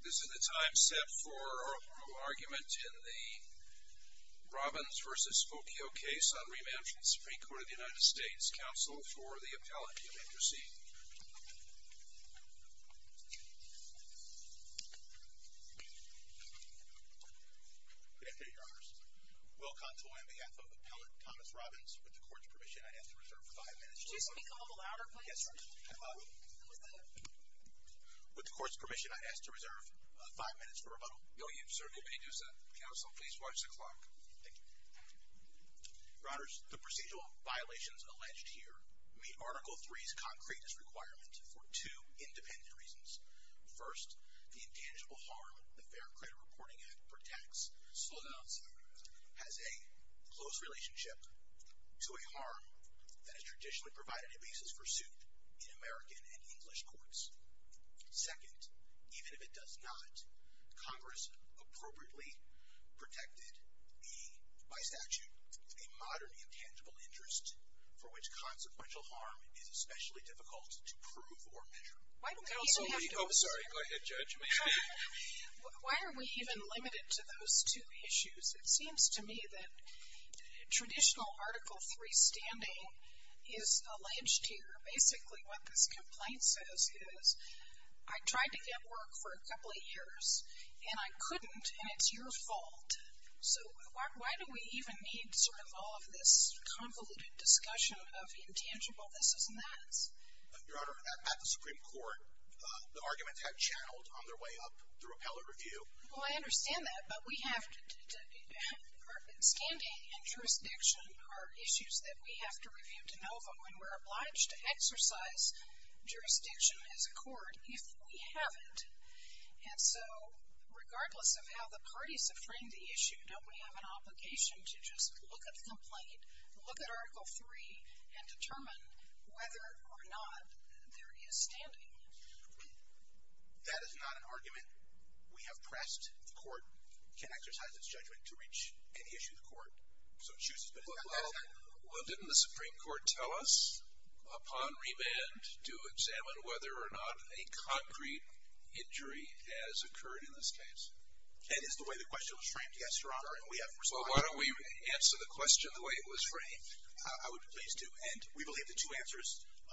This is the time set for our formal argument in the Robins v. Spokeo case on remand from the Supreme Court of the United States. Counsel for the appellant, you may proceed. Good afternoon, Your Honors. Will Contoy on behalf of Appellant Thomas Robins, with the Court's permission, I ask to reserve five minutes. Could you speak a little louder, please? Yes, Your Honor. With the Court's permission, I ask to reserve five minutes for rebuttal. No, you certainly may do so. Counsel, please watch the clock. Thank you. Your Honors, the procedural violations alleged here meet Article III's concreteness requirement for two independent reasons. First, the intangible harm the Fair Credit Reporting Act protects has a close relationship to a harm that is traditionally provided a basis for suit in American and English courts. Second, even if it does not, Congress appropriately protected by statute a modern intangible interest for which consequential harm is especially difficult to prove or measure. Why do we even have to assert? I'm sorry. Go ahead, judge. Why are we even limited to those two issues? It seems to me that traditional Article III standing is alleged here. Basically, what this complaint says is, I tried to get work for a couple of years, and I couldn't, and it's your fault. So why do we even need sort of all of this convoluted discussion of intangible this and that? Your Honor, at the Supreme Court, the arguments have channeled on their way up through appellate review. Well, I understand that, but we have to – standing and jurisdiction are issues that we have to review de novo, and we're obliged to exercise jurisdiction as a court if we haven't. And so regardless of how the parties have framed the issue, don't we have an obligation to just look at the complaint, look at Article III, and determine whether or not there is standing? That is not an argument we have pressed. The court can exercise its judgment to reach any issue of the court. Well, didn't the Supreme Court tell us upon remand to examine whether or not a concrete injury has occurred in this case? That is the way the question was framed, yes, Your Honor. Well, why don't we answer the question the way it was framed? I would be pleased to. And we believe the two answers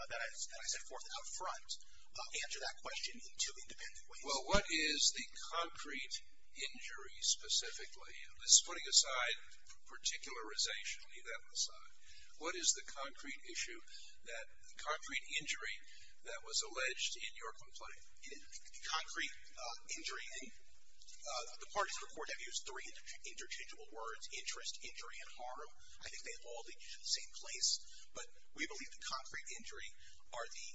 that I set forth out front answer that question in two independent ways. Well, what is the concrete injury specifically? This is putting aside particularization. I'll leave that one aside. What is the concrete issue that – concrete injury that was alleged in your complaint? Concrete injury. The parties of the court have used three interchangeable words, interest, injury, and harm. I think they have all been used in the same place. But we believe the concrete injury are the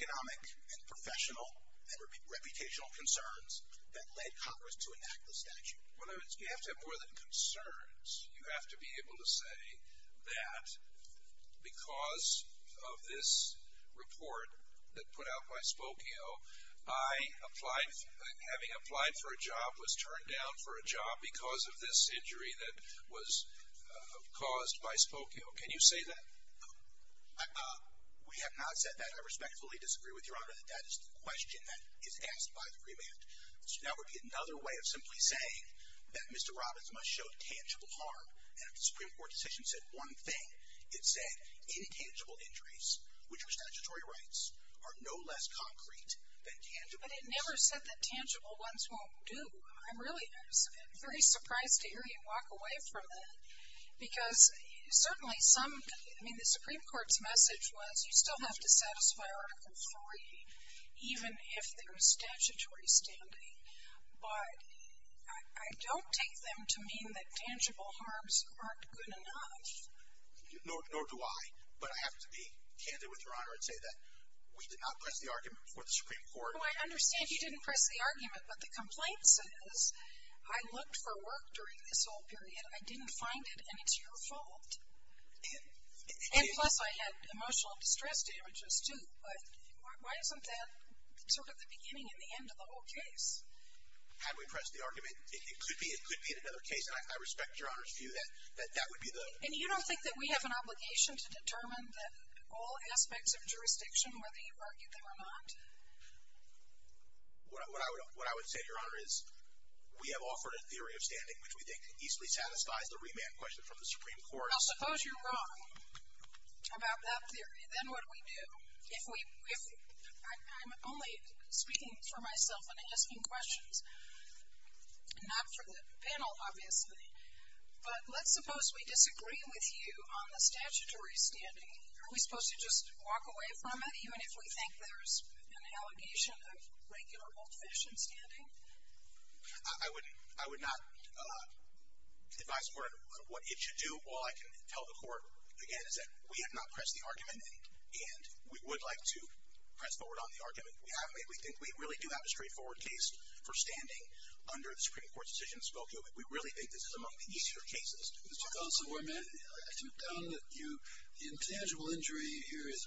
economic and professional and reputational concerns that led Congress to enact the statute. Well, you have to have more than concerns. You have to be able to say that because of this report that put out by Spokio, I applied – having applied for a job was turned down for a job because of this injury that was caused by Spokio. Can you say that? We have not said that. I respectfully disagree with Your Honor that that is the question that is asked by the remand. That would be another way of simply saying that Mr. Robbins must show tangible harm. And if the Supreme Court decision said one thing, it said intangible injuries, which are statutory rights, are no less concrete than tangible injuries. But it never said that tangible ones won't do. I'm really – I'm very surprised to hear you walk away from that because certainly some – But I don't take them to mean that tangible harms aren't good enough. Nor do I. But I have to be candid with Your Honor and say that we did not press the argument before the Supreme Court. No, I understand you didn't press the argument. But the complaint says I looked for work during this whole period, I didn't find it, and it's your fault. And plus, I had emotional distress damages, too. But why isn't that sort of the beginning and the end of the whole case? Had we pressed the argument, it could be another case. And I respect Your Honor's view that that would be the – And you don't think that we have an obligation to determine all aspects of jurisdiction, whether you argue them or not? What I would say, Your Honor, is we have offered a theory of standing which we think easily satisfies the remand question from the Supreme Court. Well, suppose you're wrong about that theory. Then what do we do? If we – I'm only speaking for myself and asking questions, not for the panel, obviously. But let's suppose we disagree with you on the statutory standing. Are we supposed to just walk away from it, even if we think there's an allegation of regular old-fashioned standing? I would not advise the Court on what it should do. All I can tell the Court, again, is that we have not pressed the argument, and we would like to press forward on the argument. We have made – we think we really do have a straightforward case for standing under the Supreme Court's decision in Spokane, but we really think this is among the easier cases. Mr. Consovoy, may I ask you a comment? The intangible injury here is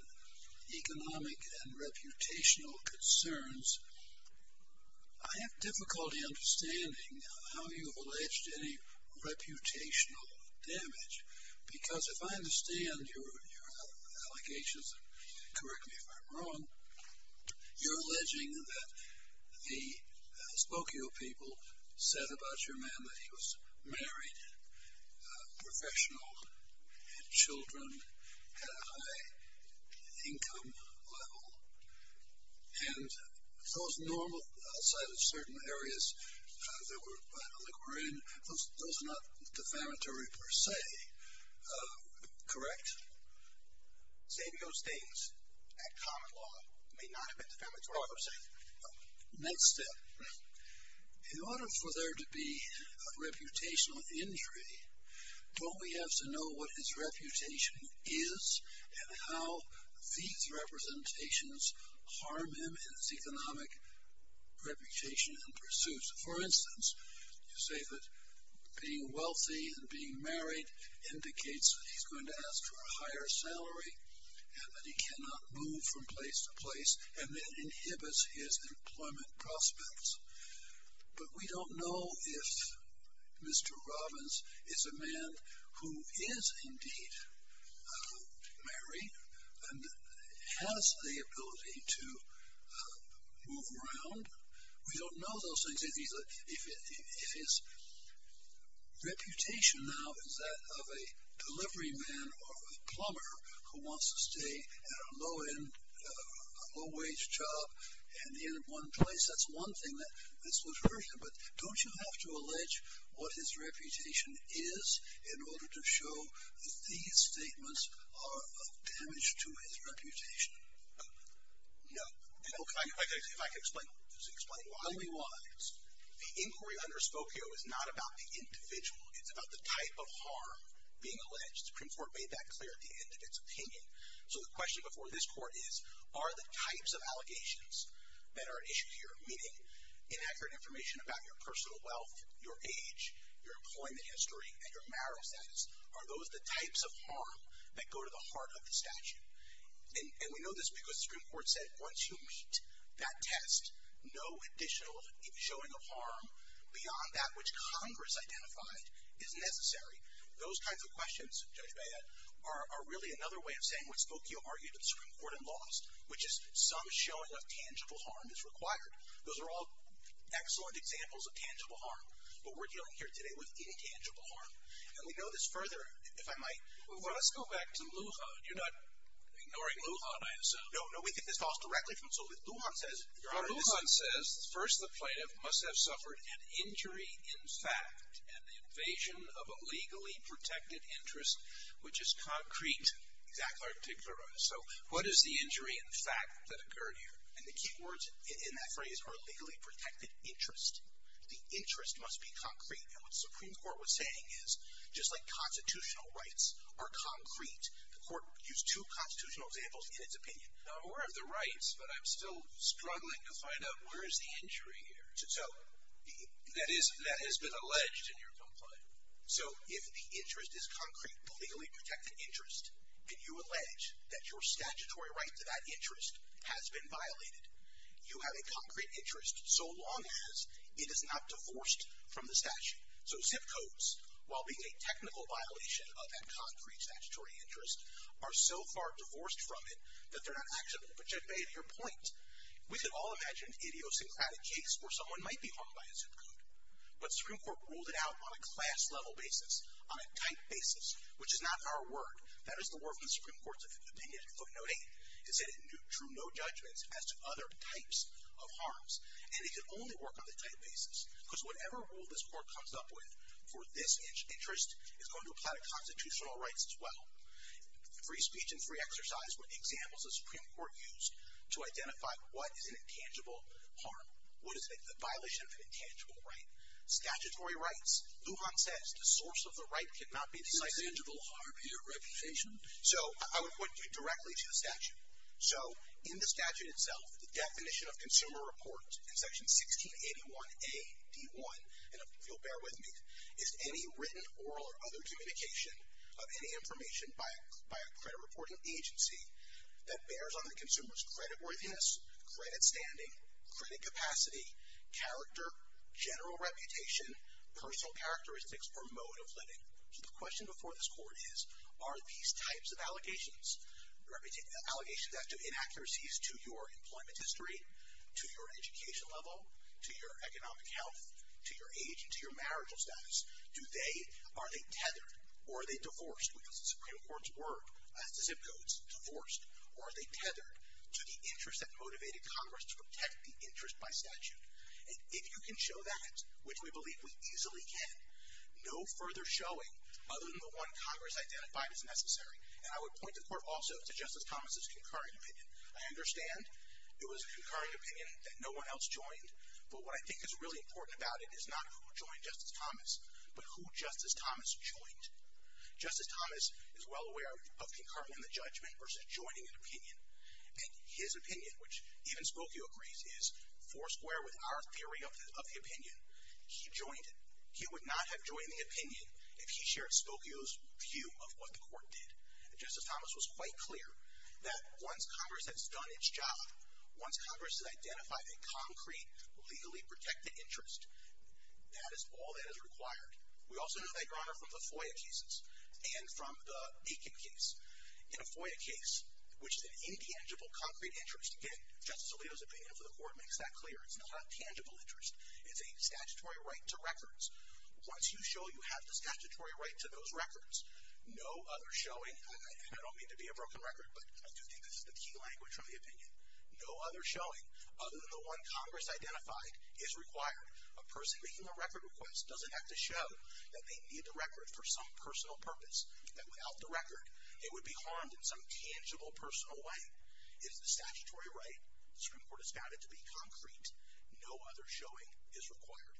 economic and reputational concerns. I have difficulty understanding how you have alleged any reputational damage, because if I understand your allegations – and correct me if I'm wrong – you're alleging that the Spokane people said about your man that he was married, professional, had children, had a high income level, and those normal – outside of certain areas that were illiquor in – those are not defamatory per se, correct? Xavier states that common law may not have been defamatory per se. Next step. In order for there to be a reputational injury, don't we have to know what his reputation is and how these representations harm him in his economic reputation and pursuits? For instance, you say that being wealthy and being married indicates that he's going to ask for a higher salary and that he cannot move from place to place and that inhibits his employment prospects. But we don't know if Mr. Robbins is a man who is indeed married and has the ability to move around. We don't know those things. If his reputation now is that of a deliveryman or of a plumber who wants to stay at a low-end, low-wage job, and end at one place, that's one thing that this would hurt him. But don't you have to allege what his reputation is in order to show that these statements are of damage to his reputation? No. If I could explain why we want this. The inquiry under Spokio is not about the individual. It's about the type of harm being alleged. The Supreme Court made that clear at the end of its opinion. So the question before this Court is, are the types of allegations that are at issue here, meaning inaccurate information about your personal wealth, your age, your employment history, and your marital status, are those the types of harm that go to the heart of the statute? And we know this because the Supreme Court said once you meet that test, no additional showing of harm beyond that which Congress identified is necessary. Those kinds of questions, Judge Beah, are really another way of saying what Spokio argued at the Supreme Court and lost, which is some showing of tangible harm is required. Those are all excellent examples of tangible harm. But we're dealing here today with intangible harm. And we know this further, if I might. Well, let's go back to Lujan. You're not ignoring Lujan, I assume. No, no, we think this falls directly from Lujan. Lujan says, Your Honor, Lujan says, First, the plaintiff must have suffered an injury in fact and the invasion of a legally protected interest, which is concrete, exactly articulated. So what is the injury in fact that occurred here? And the key words in that phrase are legally protected interest. The interest must be concrete. And what the Supreme Court was saying is, just like constitutional rights are concrete, the Court used two constitutional examples in its opinion. Now, I'm aware of the rights, but I'm still struggling to find out where is the injury here that has been alleged in your complaint. So if the interest is concrete, the legally protected interest, and you allege that your statutory right to that interest has been violated, you have a concrete interest so long as it is not divorced from the statute. So ZIP Codes, while being a technical violation of that concrete statutory interest, are so far divorced from it that they're not actionable. But you have made your point. We could all imagine an idiosyncratic case where someone might be harmed by a ZIP Code. But the Supreme Court ruled it out on a class-level basis, on a type basis, which is not our word. That is the word from the Supreme Court's opinion in footnote 8. It said it drew no judgments as to other types of harms. And it could only work on the type basis. Because whatever rule this Court comes up with for this interest is going to apply to constitutional rights as well. Free speech and free exercise were examples the Supreme Court used to identify what is an intangible harm, what is a violation of an intangible right. Statutory rights, Lujan says, the source of the right cannot be decided. So I would point you directly to the statute. So in the statute itself, the definition of consumer report in Section 1681A.D.1, and you'll bear with me, is any written, oral, or other communication of any information by a credit reporting agency that bears on the consumer's creditworthiness, credit standing, credit capacity, character, general reputation, personal characteristics, or mode of living. So the question before this Court is, are these types of allegations, allegations as to inaccuracies to your employment history, to your education level, to your economic health, to your age, and to your marital status, are they tethered or are they divorced? Because the Supreme Court's zip codes, divorced. Or are they tethered to the interest that motivated Congress to protect the interest by statute? And if you can show that, which we believe we easily can, no further showing other than the one Congress identified is necessary. And I would point the Court also to Justice Thomas' concurring opinion. I understand it was a concurring opinion that no one else joined, but what I think is really important about it is not who joined Justice Thomas, but who Justice Thomas joined. Justice Thomas is well aware of concurring the judgment versus joining an opinion. And his opinion, which even Spokio agrees is foursquare with our theory of the opinion, he joined it. He would not have joined the opinion if he shared Spokio's view of what the Court did. Justice Thomas was quite clear that once Congress has done its job, once Congress has identified a concrete, legally protected interest, that is all that is required. We also know that, Your Honor, from the FOIA cases and from the Aiken case. In a FOIA case, which is an intangible, concrete interest, again, Justice Alito's opinion for the Court makes that clear. It's not a tangible interest. It's a statutory right to records. Once you show you have the statutory right to those records, no other showing, and I don't mean to be a broken record, but I do think this is the key language from the opinion, no other showing other than the one Congress identified is required. A person making a record request doesn't have to show that they need the record for some personal purpose. That without the record, they would be harmed in some tangible, personal way. It is the statutory right, the Supreme Court has found it to be concrete. No other showing is required.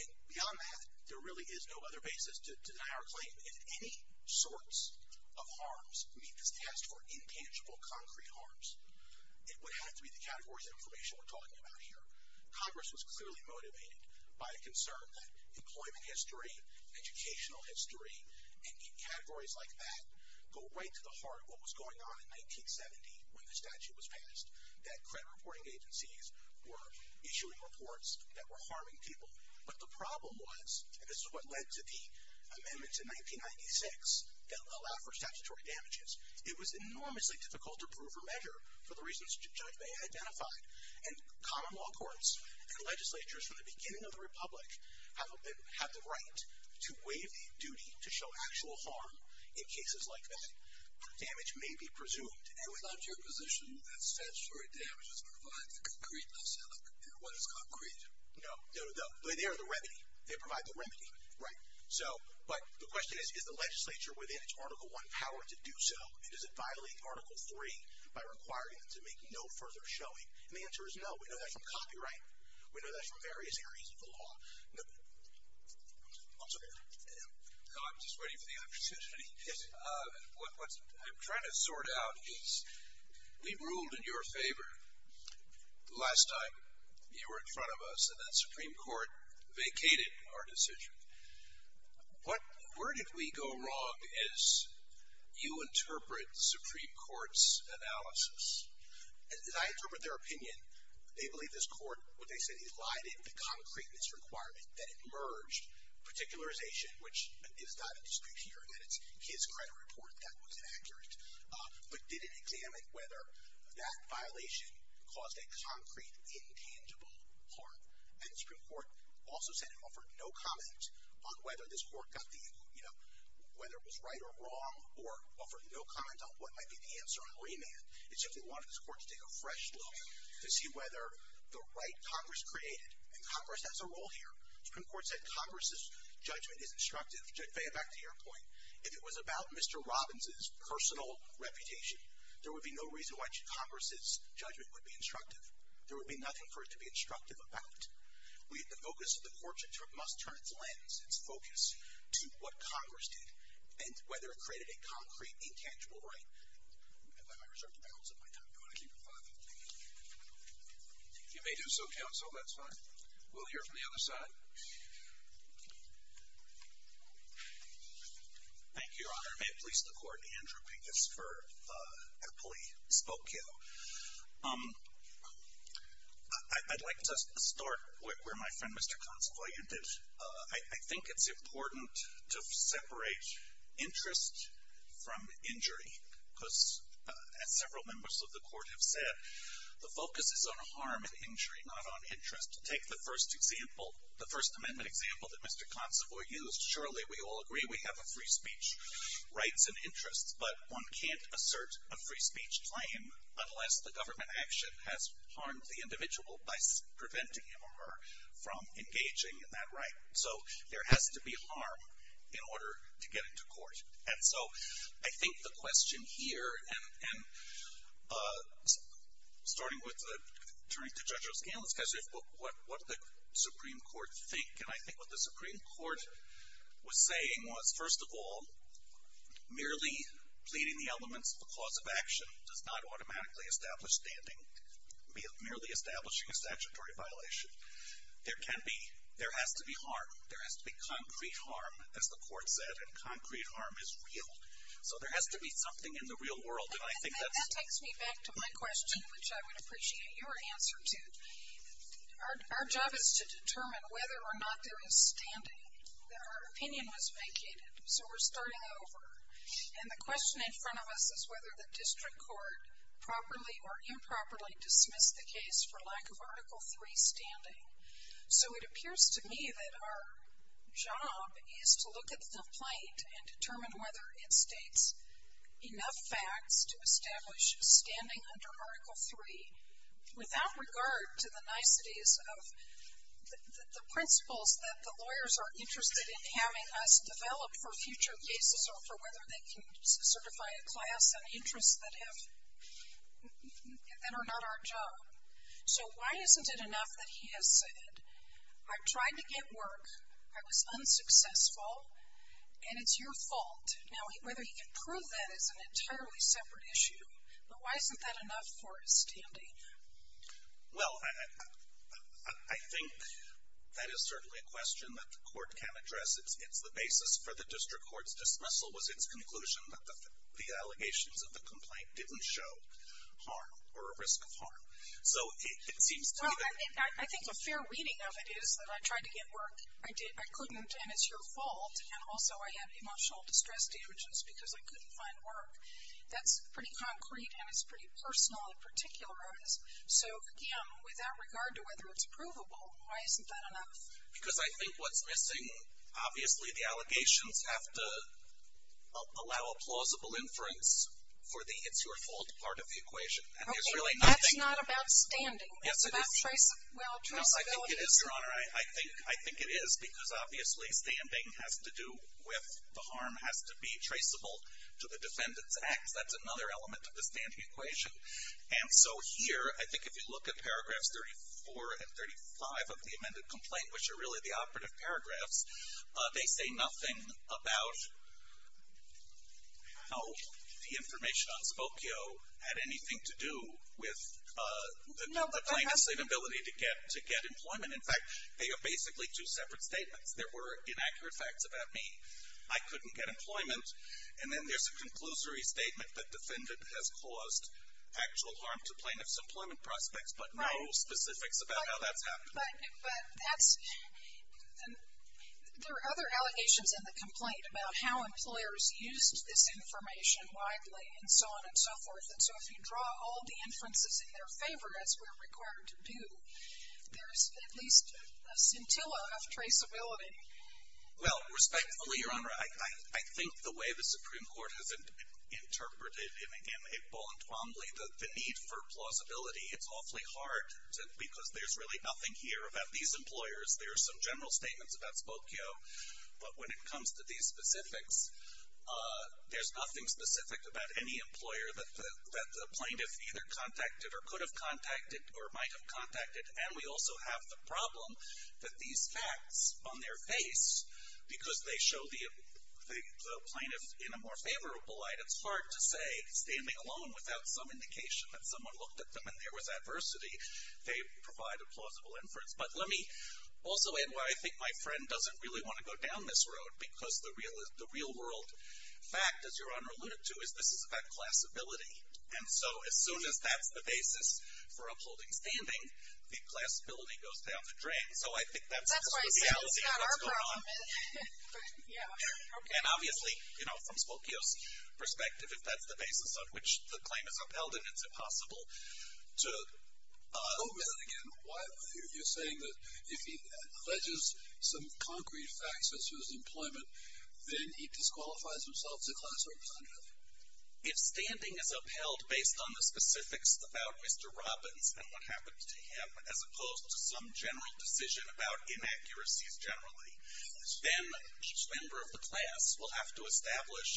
And beyond that, there really is no other basis to deny our claim. If any sorts of harms meet this test for intangible, concrete harms, it would have to be the categories of information we're talking about here. Congress was clearly motivated by a concern that employment history, educational history, and categories like that go right to the heart of what was going on in 1970 when the statute was passed, that credit reporting agencies were issuing reports that were harming people. But the problem was, and this is what led to the amendments in 1996 that allowed for statutory damages, it was enormously difficult to prove or measure for the reasons Judge May identified, and common law courts and legislatures from the beginning of the republic have the right to waive the duty to show actual harm in cases like that. Damage may be presumed. And without your position that statutory damages provide the concrete lesson, what is concrete? No, they are the remedy. They provide the remedy. But the question is, is the legislature within its Article I power to do so, and does it violate Article III by requiring them to make no further showing? And the answer is no. We know that from copyright. We know that from various areas of the law. I'm sorry. No, I'm just waiting for the opportunity. What I'm trying to sort out is we've ruled in your favor the last time you were in front of us and that Supreme Court vacated our decision. Where did we go wrong as you interpret the Supreme Court's analysis? As I interpret their opinion, they believe this court, what they said, elided the concreteness requirement that emerged, particularization, which is not in dispute here, that it's his credit report that was inaccurate, but didn't examine whether that violation caused a concrete intangible harm. And the Supreme Court also said it offered no comment on whether this court got the, you know, whether it was right or wrong, or offered no comment on what might be the answer on remand. It simply wanted this court to take a fresh look to see whether the right Congress created, and Congress has a role here. The Supreme Court said Congress's judgment is instructive. Faye, back to your point. If it was about Mr. Robbins' personal reputation, there would be no reason why Congress's judgment would be instructive. There would be nothing for it to be instructive about. The focus of the court should turn, must turn its lens, its focus to what Congress did and whether it created a concrete intangible right. I reserve the balance of my time. Do you want to keep it 5? Thank you. You may do so, counsel. That's fine. We'll hear from the other side. Thank you, Your Honor. May it please the Court. Andrew Pincus for Eppley Spokale. I'd like to start where my friend, Mr. Consovoy, you did. I think it's important to separate interest from injury, because as several members of the Court have said, the focus is on harm and injury, not on interest. Take the First Amendment example that Mr. Consovoy used. Surely we all agree we have a free speech rights and interests, but one can't assert a free speech claim unless the government action has harmed the individual by preventing him or her from engaging in that right. So there has to be harm in order to get into court. And so I think the question here, and starting with, turning to Judge O'Scanlon's question, what did the Supreme Court think? And I think what the Supreme Court was saying was, first of all, merely pleading the elements of a cause of action does not automatically establish standing merely establishing a statutory violation. There has to be harm. There has to be concrete harm, as the Court said, and concrete harm is real. So there has to be something in the real world. And I think that's... That takes me back to my question, which I would appreciate your answer to. Our job is to determine whether or not there is standing, that our opinion was vacated. So we're starting over. And the question in front of us is whether the district court properly or improperly dismissed the case for lack of Article III standing. So it appears to me that our job is to look at the complaint and determine whether it states enough facts to establish standing under Article III without regard to the niceties of the principles that the lawyers are interested in having us develop for future cases or for whether they can certify a class and interests that are not our job. So why isn't it enough that he has said, I tried to get work, I was unsuccessful, and it's your fault? Now, whether he can prove that is an entirely separate issue, but why isn't that enough for his standing? Well, I think that is certainly a question that the Court can address. It's the basis for the district court's dismissal was its conclusion that the allegations of the complaint didn't show harm or a risk of harm. So it seems to me that... Well, I think a fair reading of it is that I tried to get work, I couldn't, and it's your fault, and also I had emotional distress damages because I couldn't find work. That's pretty concrete and it's pretty personal in particular. So, again, without regard to whether it's provable, why isn't that enough? Because I think what's missing, obviously the allegations have to allow a plausible inference for the it's your fault part of the equation. Okay, that's not about standing. Yes, it is. It's about traceability. No, I think it is, Your Honor. I think it is because obviously standing has to do with the harm, has to be traceable to the defendant's acts. That's another element of the standing equation. And so here, I think if you look at paragraphs 34 and 35 of the amended complaint, which are really the operative paragraphs, they say nothing about how the information on Spokio had anything to do with the plaintiff's inability to get employment. In fact, they are basically two separate statements. There were inaccurate facts about me. I couldn't get employment. And then there's a conclusory statement that defendant has caused actual harm to plaintiff's employment prospects, but no specifics about how that's happening. But that's, there are other allegations in the complaint about how employers used this information widely and so on and so forth. And so if you draw all the inferences in their favor, as we're required to do, there's at least a scintilla of traceability. Well, respectfully, Your Honor, I think the way the Supreme Court has interpreted it, and again, it bluntly, the need for plausibility, it's awfully hard because there's really nothing here about these employers. There are some general statements about Spokio, but when it comes to these specifics, there's nothing specific about any employer that the plaintiff either contacted or could have contacted or might have contacted. And we also have the problem that these facts on their face, because they show the plaintiff in a more favorable light, it's hard to say, standing alone, without some indication that someone looked at them and there was adversity, they provide a plausible inference. But let me also add why I think my friend doesn't really want to go down this road, because the real world fact, as Your Honor alluded to, is this is about classability. And so as soon as that's the basis for upholding standing, the classability goes down the drain. So I think that's the reality of what's going on. And obviously, you know, from Spokio's perspective, if that's the basis on which the claim is upheld, then it's impossible to. I'll go with it again. You're saying that if he alleges some concrete facts as to his employment, then he disqualifies himself as a class representative. If standing is upheld based on the specifics about Mr. Robbins and what happened to him, as opposed to some general decision about inaccuracies generally, then each member of the class will have to establish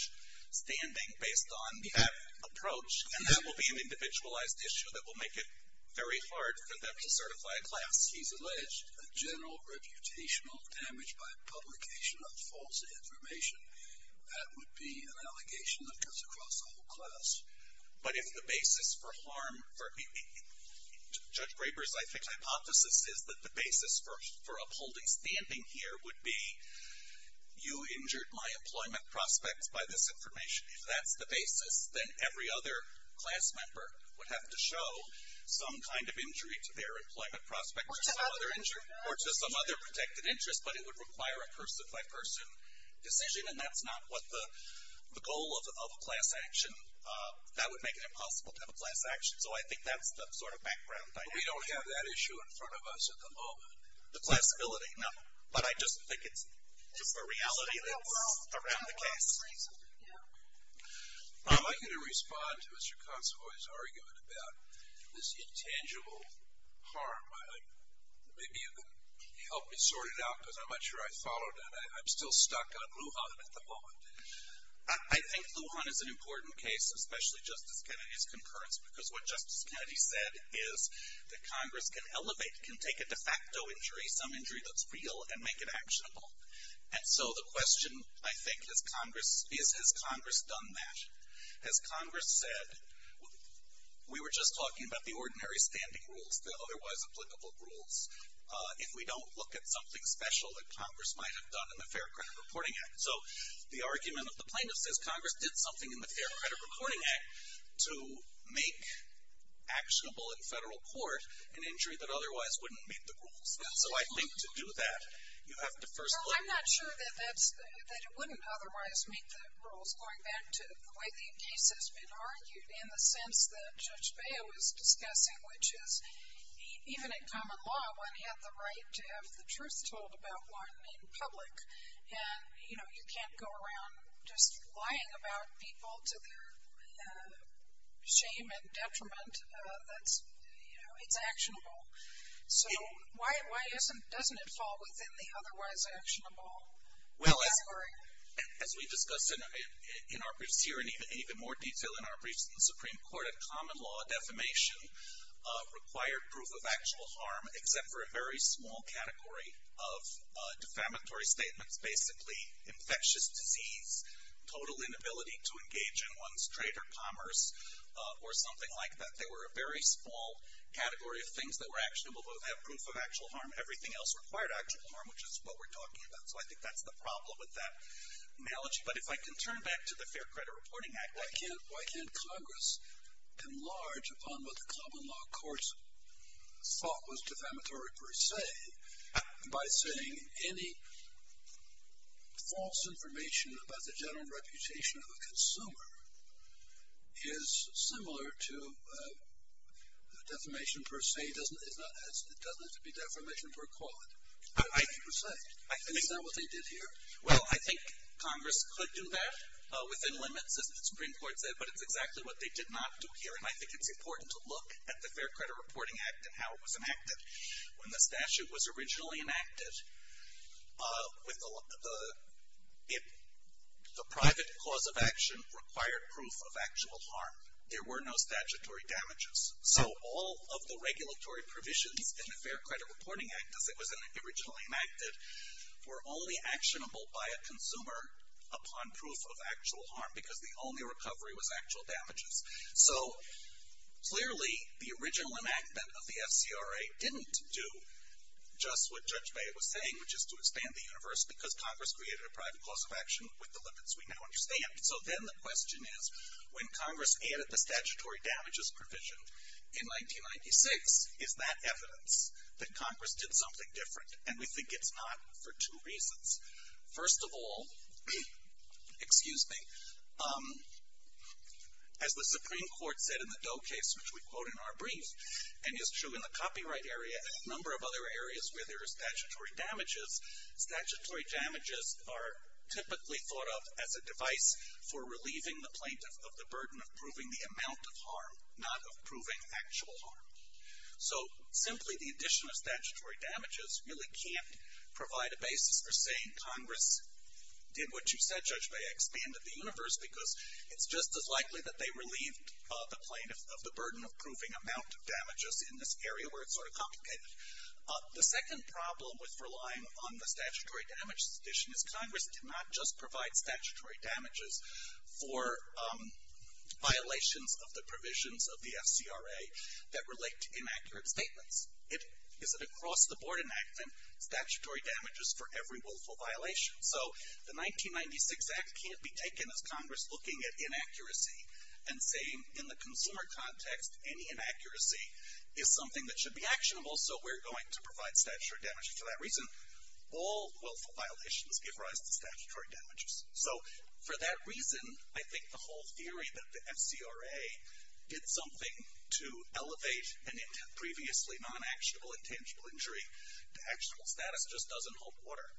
standing based on that approach, and that will be an individualized issue that will make it very hard for them to certify a class. He's alleged a general reputational damage by publication of false information. That would be an allegation that goes across the whole class. But if the basis for harm for... Judge Graber's, I think, hypothesis is that the basis for upholding standing here would be you injured my employment prospects by this information. If that's the basis, then every other class member would have to show some kind of injury to their employment prospects or to some other protected interest, but it would require a person-by-person decision, and that's not what the goal of a class action. That would make it impossible to have a class action, so I think that's the sort of background. We don't have that issue in front of us at the moment. The class ability, no. But I just think it's a reality that's around the case. I'd like you to respond to Mr. Consovoy's argument about this intangible harm. Maybe you could help me sort it out because I'm not sure I followed that. I'm still stuck on Lujan at the moment. I think Lujan is an important case, especially Justice Kennedy's concurrence, because what Justice Kennedy said is that Congress can elevate, can take a de facto injury, some injury that's real, and make it actionable. And so the question, I think, is has Congress done that? Has Congress said, we were just talking about the ordinary standing rules, the otherwise applicable rules. If we don't look at something special that Congress might have done in the Fair Credit Reporting Act. So the argument of the plaintiffs is Congress did something in the Fair Credit Reporting Act to make actionable in federal court an injury that otherwise wouldn't meet the rules. And so I think to do that, you have to first look at. Well, I'm not sure that it wouldn't otherwise meet the rules, going back to the way the case has been argued, in the sense that Judge Baio was discussing, which is even in common law, one had the right to have the truth told about one in public. And, you know, you can't go around just lying about people to their shame and detriment that's, you know, it's actionable. So why doesn't it fall within the otherwise actionable category? Well, as we discussed in our briefs here and even more detail in our briefs in the Supreme Court, a common law defamation required proof of actual harm, except for a very small category of defamatory statements, basically infectious disease, total inability to engage in one's trade or commerce, or something like that. They were a very small category of things that were actionable, but would have proof of actual harm. Everything else required actual harm, which is what we're talking about. So I think that's the problem with that analogy. But if I can turn back to the Fair Credit Reporting Act, why can't Congress enlarge upon what the common law courts thought was defamatory, per se, by saying any false information about the general reputation of a consumer is similar to defamation per se. It doesn't have to be defamation per quod, per se. Is that what they did here? Well, I think Congress could do that within limits, as the Supreme Court said, but it's exactly what they did not do here. And I think it's important to look at the Fair Credit Reporting Act and how it was enacted. When the statute was originally enacted, the private cause of action required proof of actual harm. There were no statutory damages. So all of the regulatory provisions in the Fair Credit Reporting Act, as it was originally enacted, were only actionable by a consumer upon proof of actual harm, because the only recovery was actual damages. So, clearly, the original enactment of the FCRA didn't do just what Judge Beyer was saying, which is to expand the universe, because Congress created a private cause of action with the limits we now understand. So then the question is, when Congress added the statutory damages provision in 1996, is that evidence that Congress did something different? And we think it's not for two reasons. First of all, excuse me, as the Supreme Court said in the Doe case, which we quote in our brief, and is true in the copyright area and a number of other areas where there are statutory damages, statutory damages are typically thought of as a device for relieving the plaintiff of the burden of proving the amount of harm, not of proving actual harm. So, simply the addition of statutory damages really can't provide a basis for saying Congress did what you said, Judge Beyer, expanded the universe, because it's just as likely that they relieved the plaintiff of the burden of proving amount of damages in this area where it's sort of complicated. The second problem with relying on the statutory damages addition is Congress did not just provide statutory damages for violations of the provisions of the FCRA that relate to inaccurate statements. It is an across-the-board enactment, statutory damages for every willful violation. So, the 1996 Act can't be taken as Congress looking at inaccuracy and saying, in the consumer context, any inaccuracy is something that should be actionable, so we're going to provide statutory damages for that reason. All willful violations give rise to statutory damages. So, for that reason, I think the whole theory that the FCRA did something to elevate a previously non-actionable intangible injury to actionable status just doesn't hold water.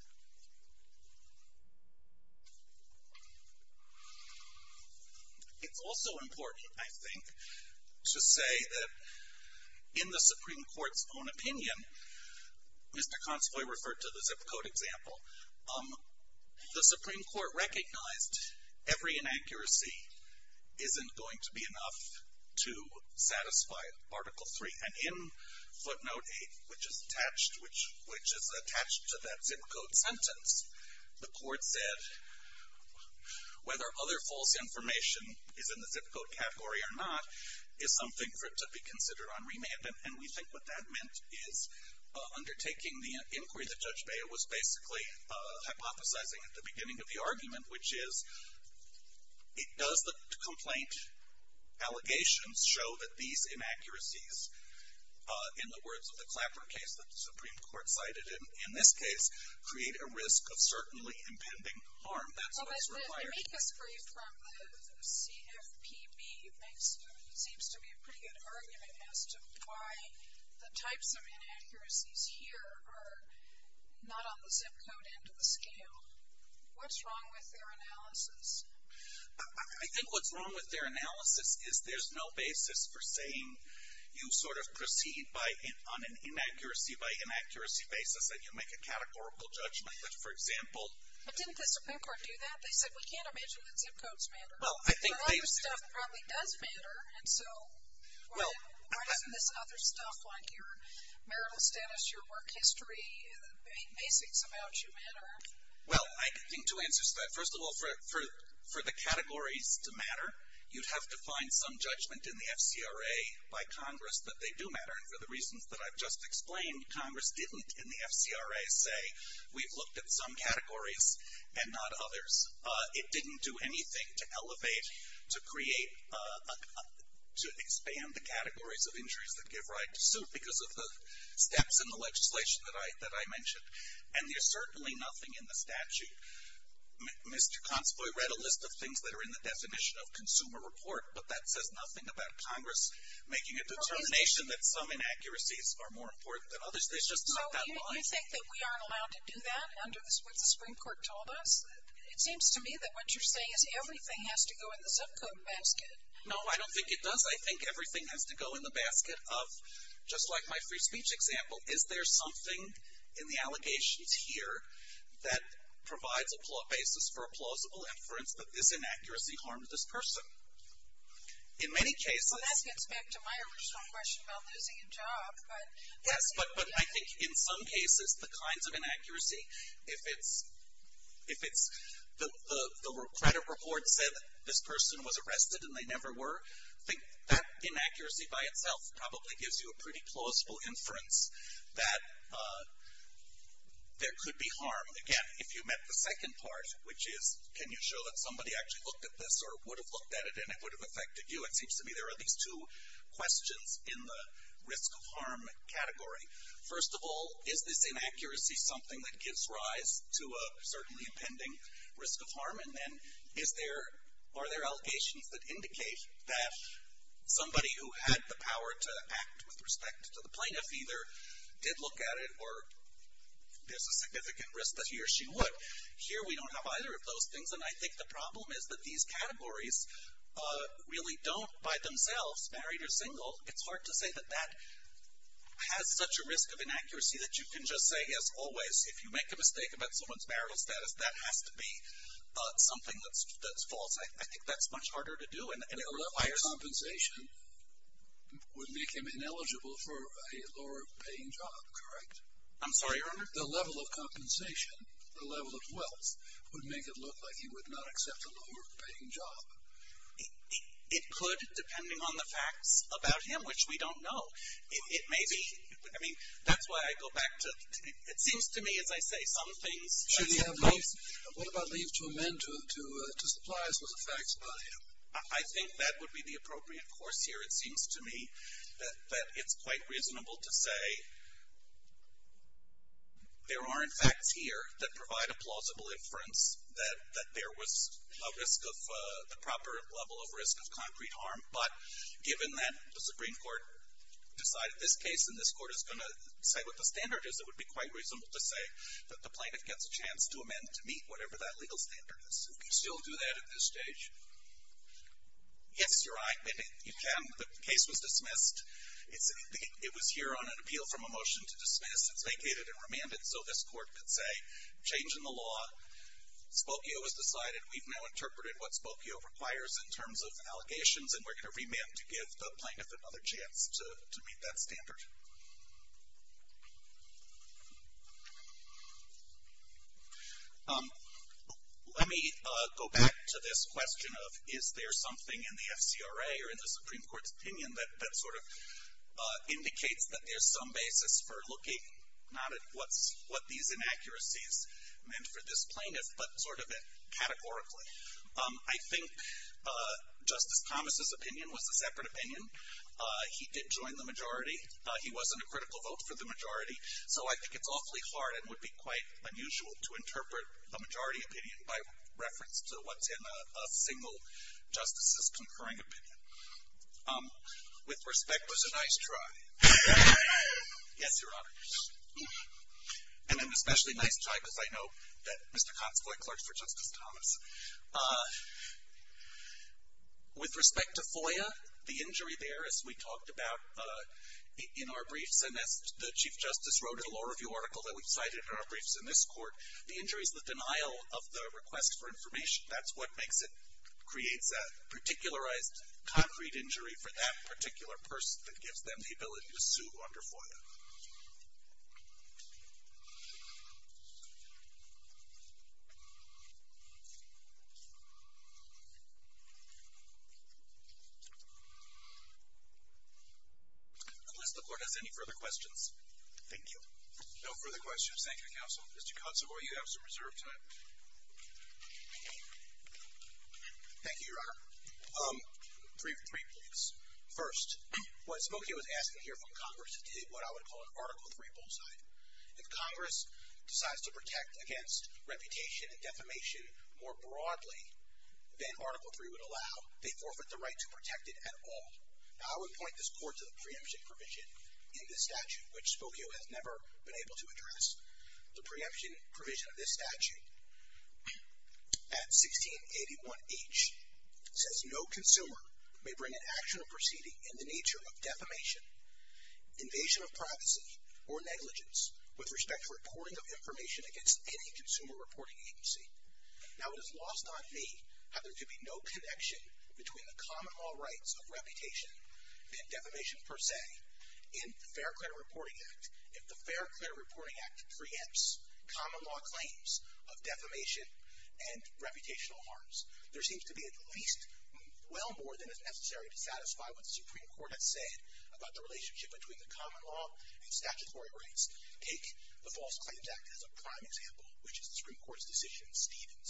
It's also important, I think, to say that in the Supreme Court's own opinion, Mr. Consovoy referred to the zip code example, the Supreme Court recognized every inaccuracy isn't going to be enough to satisfy Article 3. And in footnote 8, which is attached to that zip code sentence, the court said whether other false information is in the zip code category or not is something for it to be considered on remand. And we think what that meant is undertaking the inquiry that Judge Beyer was basically hypothesizing at the beginning of the argument, which is, does the complaint allegations show that these inaccuracies, in the words of the Clapper case that the Supreme Court cited in this case, create a risk of certainly impending harm? That's what's required. I think this brief from the CFPB seems to be a pretty good argument as to why the types of inaccuracies here are not on the zip code end of the scale. What's wrong with their analysis? I think what's wrong with their analysis is there's no basis for saying you sort of proceed on an inaccuracy-by-inaccuracy basis and you make a categorical judgment. But didn't the Supreme Court do that? They said we can't imagine that zip codes matter. A lot of your stuff probably does matter. And so why doesn't this other stuff like your marital status, your work history, the basics about you matter? Well, I think two answers to that. First of all, for the categories to matter, you'd have to find some judgment in the FCRA by Congress that they do matter. And for the reasons that I've just explained, Congress didn't in the FCRA say we've looked at some categories and not others. It didn't do anything to elevate, to create, to expand the categories of injuries that give right to suit because of the steps in the legislation that I mentioned. And there's certainly nothing in the statute. Mr. Consovoy read a list of things that are in the definition of consumer report, but that says nothing about Congress making a determination that some inaccuracies are more important than others. There's just not that line. So you think that we aren't allowed to do that under what the Supreme Court told us? It seems to me that what you're saying is everything has to go in the zip code basket. No, I don't think it does. I think everything has to go in the basket of, just like my free speech example, is there something in the allegations here that provides a basis for a plausible inference that this inaccuracy harmed this person? In many cases... Well, that gets back to my original question about losing a job. Yes, but I think in some cases the kinds of inaccuracy, if it's the credit report said this person was arrested and they never were, I think that inaccuracy by itself probably gives you a pretty plausible inference that there could be harm. Again, if you met the second part, which is can you show that somebody actually looked at this or would have looked at it and it would have affected you, it seems to me there are these two questions in the risk of harm category. First of all, is this inaccuracy something that gives rise to a certainly impending risk of harm? And then are there allegations that indicate that somebody who had the power to act with respect to the plaintiff either did look at it or there's a significant risk that he or she would? Here we don't have either of those things, and I think the problem is that these categories really don't by themselves, married or single, it's hard to say that that has such a risk of inaccuracy that you can just say, as always, if you make a mistake about someone's marital status, that has to be something that's false. I think that's much harder to do. The level of compensation would make him ineligible for a lower-paying job, correct? I'm sorry, Your Honor? The level of compensation, the level of wealth, would make it look like he would not accept a lower-paying job. It could, depending on the facts about him, which we don't know. It may be, I mean, that's why I go back to, it seems to me, as I say, some things. Should he have leave? What about leave to amend to supply us with the facts about him? I think that would be the appropriate course here. It seems to me that it's quite reasonable to say there are, in fact, here that provide a plausible inference that there was a risk of, the proper level of risk of concrete harm, but given that the Supreme Court decided this case and this Court is going to say what the standard is, it would be quite reasonable to say that the plaintiff gets a chance to amend to meet whatever that legal standard is. Can you still do that at this stage? Yes, Your Honor, and you can. The case was dismissed. It was here on an appeal from a motion to dismiss. It's vacated and remanded, so this Court could say, change in the law. Spokio was decided. We've now interpreted what Spokio requires in terms of allegations, and we're going to remand to give the plaintiff another chance to meet that standard. Let me go back to this question of is there something in the FCRA or in the Supreme Court's opinion that sort of indicates that there's some basis for looking not at what these inaccuracies meant for this plaintiff, but sort of categorically. I think Justice Thomas' opinion was a separate opinion. He did join the majority. He wasn't a critical vote for the majority, so I think it's awfully hard and would be quite unusual to interpret a majority opinion by reference to what's in a single justice's concurring opinion. With respect was a nice try. Yes, Your Honor. And an especially nice try because I know that Mr. Consovoy clerks for Justice Thomas. With respect to FOIA, the injury there, as we talked about in our briefs, and as the Chief Justice wrote in a law review article that we cited in our briefs in this Court, the injury is the denial of the request for information. That's what makes it, creates a particularized concrete injury for that particular person that gives them the ability to sue under FOIA. Unless the Court has any further questions. Thank you. No further questions. Thank you, Counsel. Mr. Consovoy, you have some reserved time. Thank you, Your Honor. Three briefs. First, what Spokio is asking here from Congress is what I would call an Article III bullseye. If Congress decides to protect against reputation and defamation more broadly than Article III would allow, they forfeit the right to protect it at all. Now, I would point this Court to the preemption provision in this statute, which Spokio has never been able to address. The preemption provision of this statute at 1681H says, no consumer may bring an action or proceeding in the nature of defamation, invasion of privacy, or negligence with respect to reporting of information against any consumer reporting agency. Now, it is lost on me how there could be no connection between the common law rights of reputation and defamation per se in the Fair Credit Reporting Act. If the Fair Credit Reporting Act preempts common law claims of defamation and reputational harms, there seems to be at least well more than is necessary to satisfy what the Supreme Court has said about the relationship between the common law and statutory rights. Take the False Claims Act as a prime example, which is the Supreme Court's decision in Stevens.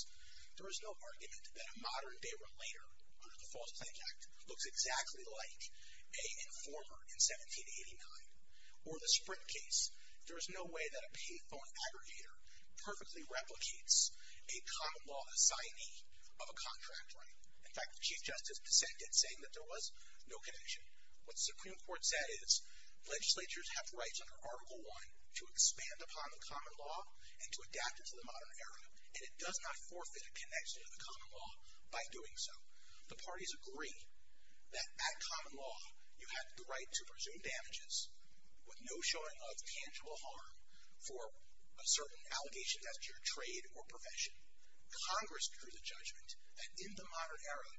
There is no argument that a modern day relator under the False Claims Act looks exactly like a informer in 1789 or the Sprint case. There is no way that a payphone aggregator perfectly replicates a common law assignee of a contract right. In fact, the Chief Justice dissented, saying that there was no connection. What the Supreme Court said is, legislatures have rights under Article I to expand upon the common law and to adapt it to the modern era, and it does not forfeit a connection to the common law by doing so. The parties agree that at common law, you have the right to presume damages with no showing of tangible harm for certain allegations as to your trade or profession. Congress accrues a judgment that in the modern era,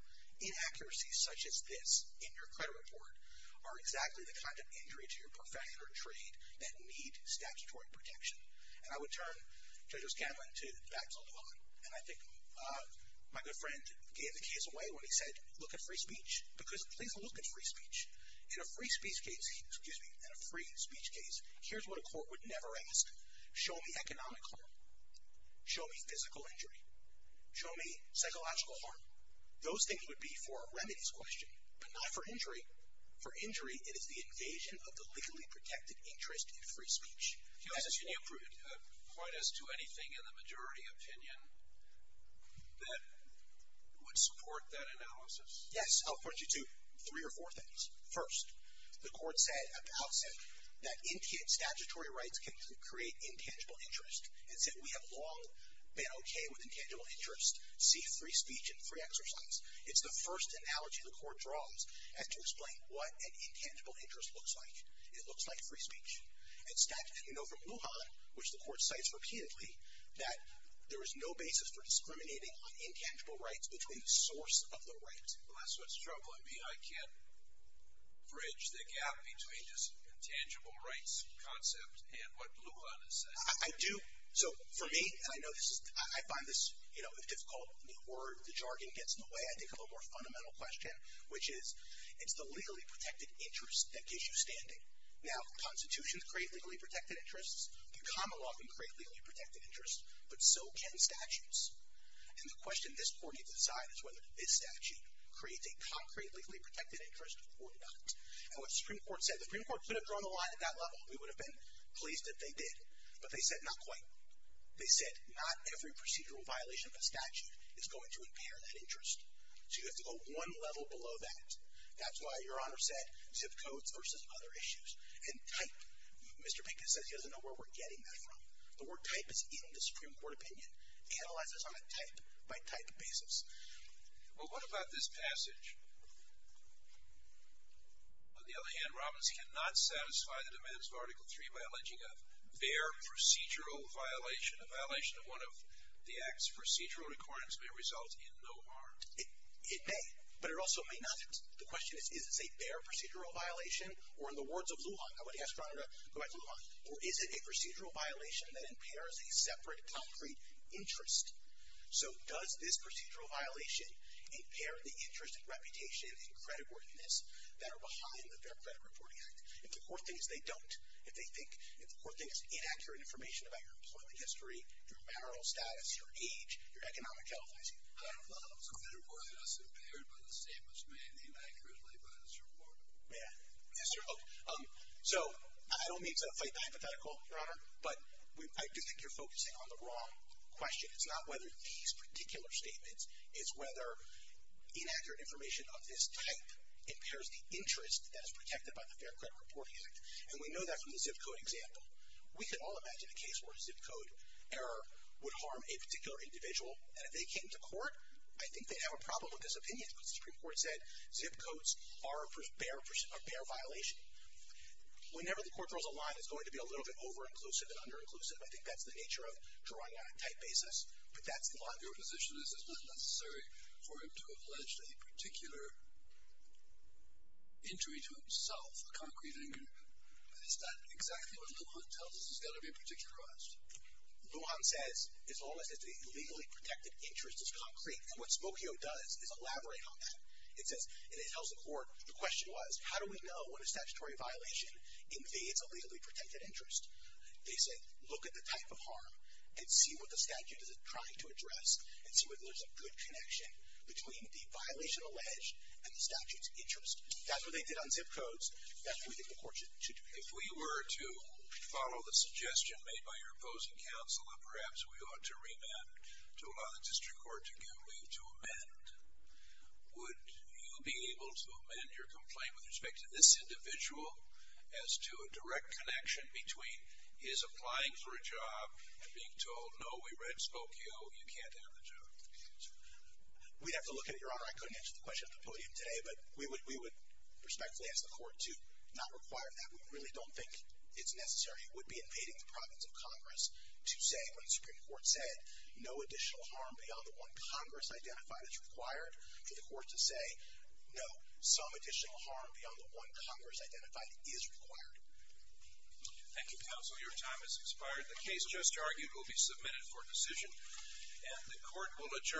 inaccuracies such as this in your credit report are exactly the kind of injury to your profession or trade that need statutory protection. And I would turn Judge O'Scanlan back to the law. And I think my good friend gave the case away when he said, look at free speech. Because please look at free speech. In a free speech case, here's what a court would never ask. Show me economic harm. Show me physical injury. Show me psychological harm. Those things would be for a remedies question, but not for injury. For injury, it is the invasion of the legally protected interest in free speech. Justice, can you point us to anything in the majority opinion that would support that analysis? Yes, I'll point you to three or four things. First, the court said at the outset that statutory rights can create intangible interest. It said we have long been okay with intangible interest. See free speech and free exercise. It's the first analogy the court draws as to explain what an intangible interest looks like. It looks like free speech. And statistically, we know from Lujan, which the court cites repeatedly, that there is no basis for discriminating on intangible rights between the source of the right. That's what's troubling me. I can't bridge the gap between this intangible rights concept and what Lujan is saying. I do. So for me, and I know this is, I find this, you know, difficult. The word, the jargon gets in the way. I think of a more fundamental question, which is, it's the legally protected interest that gives you standing. Now, constitutions create legally protected interests. The common law can create legally protected interests. But so can statutes. And the question this court needs to decide is whether this statute creates a concrete legally protected interest or not. And what the Supreme Court said, the Supreme Court could have drawn the line at that level. We would have been pleased if they did. But they said not quite. They said not every procedural violation of a statute is going to impair that interest. So you have to go one level below that. That's why Your Honor said zip codes versus other issues. And type. Mr. Pinker says he doesn't know where we're getting that from. The word type is in the Supreme Court opinion. Analyze this on a type-by-type basis. Well, what about this passage? On the other hand, Robbins cannot satisfy the demands of Article III by alleging a fair procedural violation. A violation of one of the Act's procedural requirements may result in no harm. It may. But it also may not. The question is, is this a fair procedural violation? Or in the words of Lujan, I want to ask Ron to go back to Lujan. Or is it a procedural violation that impairs a separate concrete interest? So does this procedural violation impair the interest and reputation and creditworthiness that are behind the Fair Credit Reporting Act? If the court thinks they don't, if they think if the court thinks inaccurate information about your employment history, your marital status, your age, your economic health, I don't know. I don't know. Is creditworthiness impaired by the statements made inaccurately by this report? Yes, Your Honor. So I don't mean to fight the hypothetical, Your Honor, but I do think you're focusing on the wrong question. It's not whether these particular statements, it's whether inaccurate information of this type impairs the interest that is protected by the Fair Credit Reporting Act. And we know that from the zip code example. We can all imagine a case where a zip code error would harm a particular individual. And if they came to court, I think they'd have a problem with this opinion. The Supreme Court said zip codes are a bare violation. Whenever the court draws a line, it's going to be a little bit over-inclusive and under-inclusive. I think that's the nature of drawing on a tight basis. But that's the line. Your position is it's not necessary for him to have alleged a particular injury to himself, a concrete injury. But it's not exactly what Lujan tells us is going to be particularized. Lujan says, as long as the legally protected interest is concrete. And what Smokio does is elaborate on that. It says, and it tells the court, the question was, how do we know when a statutory violation invades a legally protected interest? They say, look at the type of harm and see what the statute is trying to address and see whether there's a good connection between the violation alleged and the statute's interest. That's what they did on zip codes. That's what we think the court should do. If we were to follow the suggestion made by your opposing counsel that perhaps we ought to remand to allow the district court to give way to amend, would you be able to amend your complaint with respect to this individual as to a direct connection between his applying for a job and being told, no, we read Smokio, you can't have the job? We'd have to look at it, Your Honor. I couldn't answer the question at the podium today. But we would respectfully ask the court to not require that. We really don't think it's necessary. It would be invading the province of Congress to say, when the Supreme Court said, no additional harm beyond the one Congress identified is required, for the court to say, no, some additional harm beyond the one Congress identified is required. Thank you, counsel. Your time has expired. The case just argued will be submitted for decision, and the court will adjourn.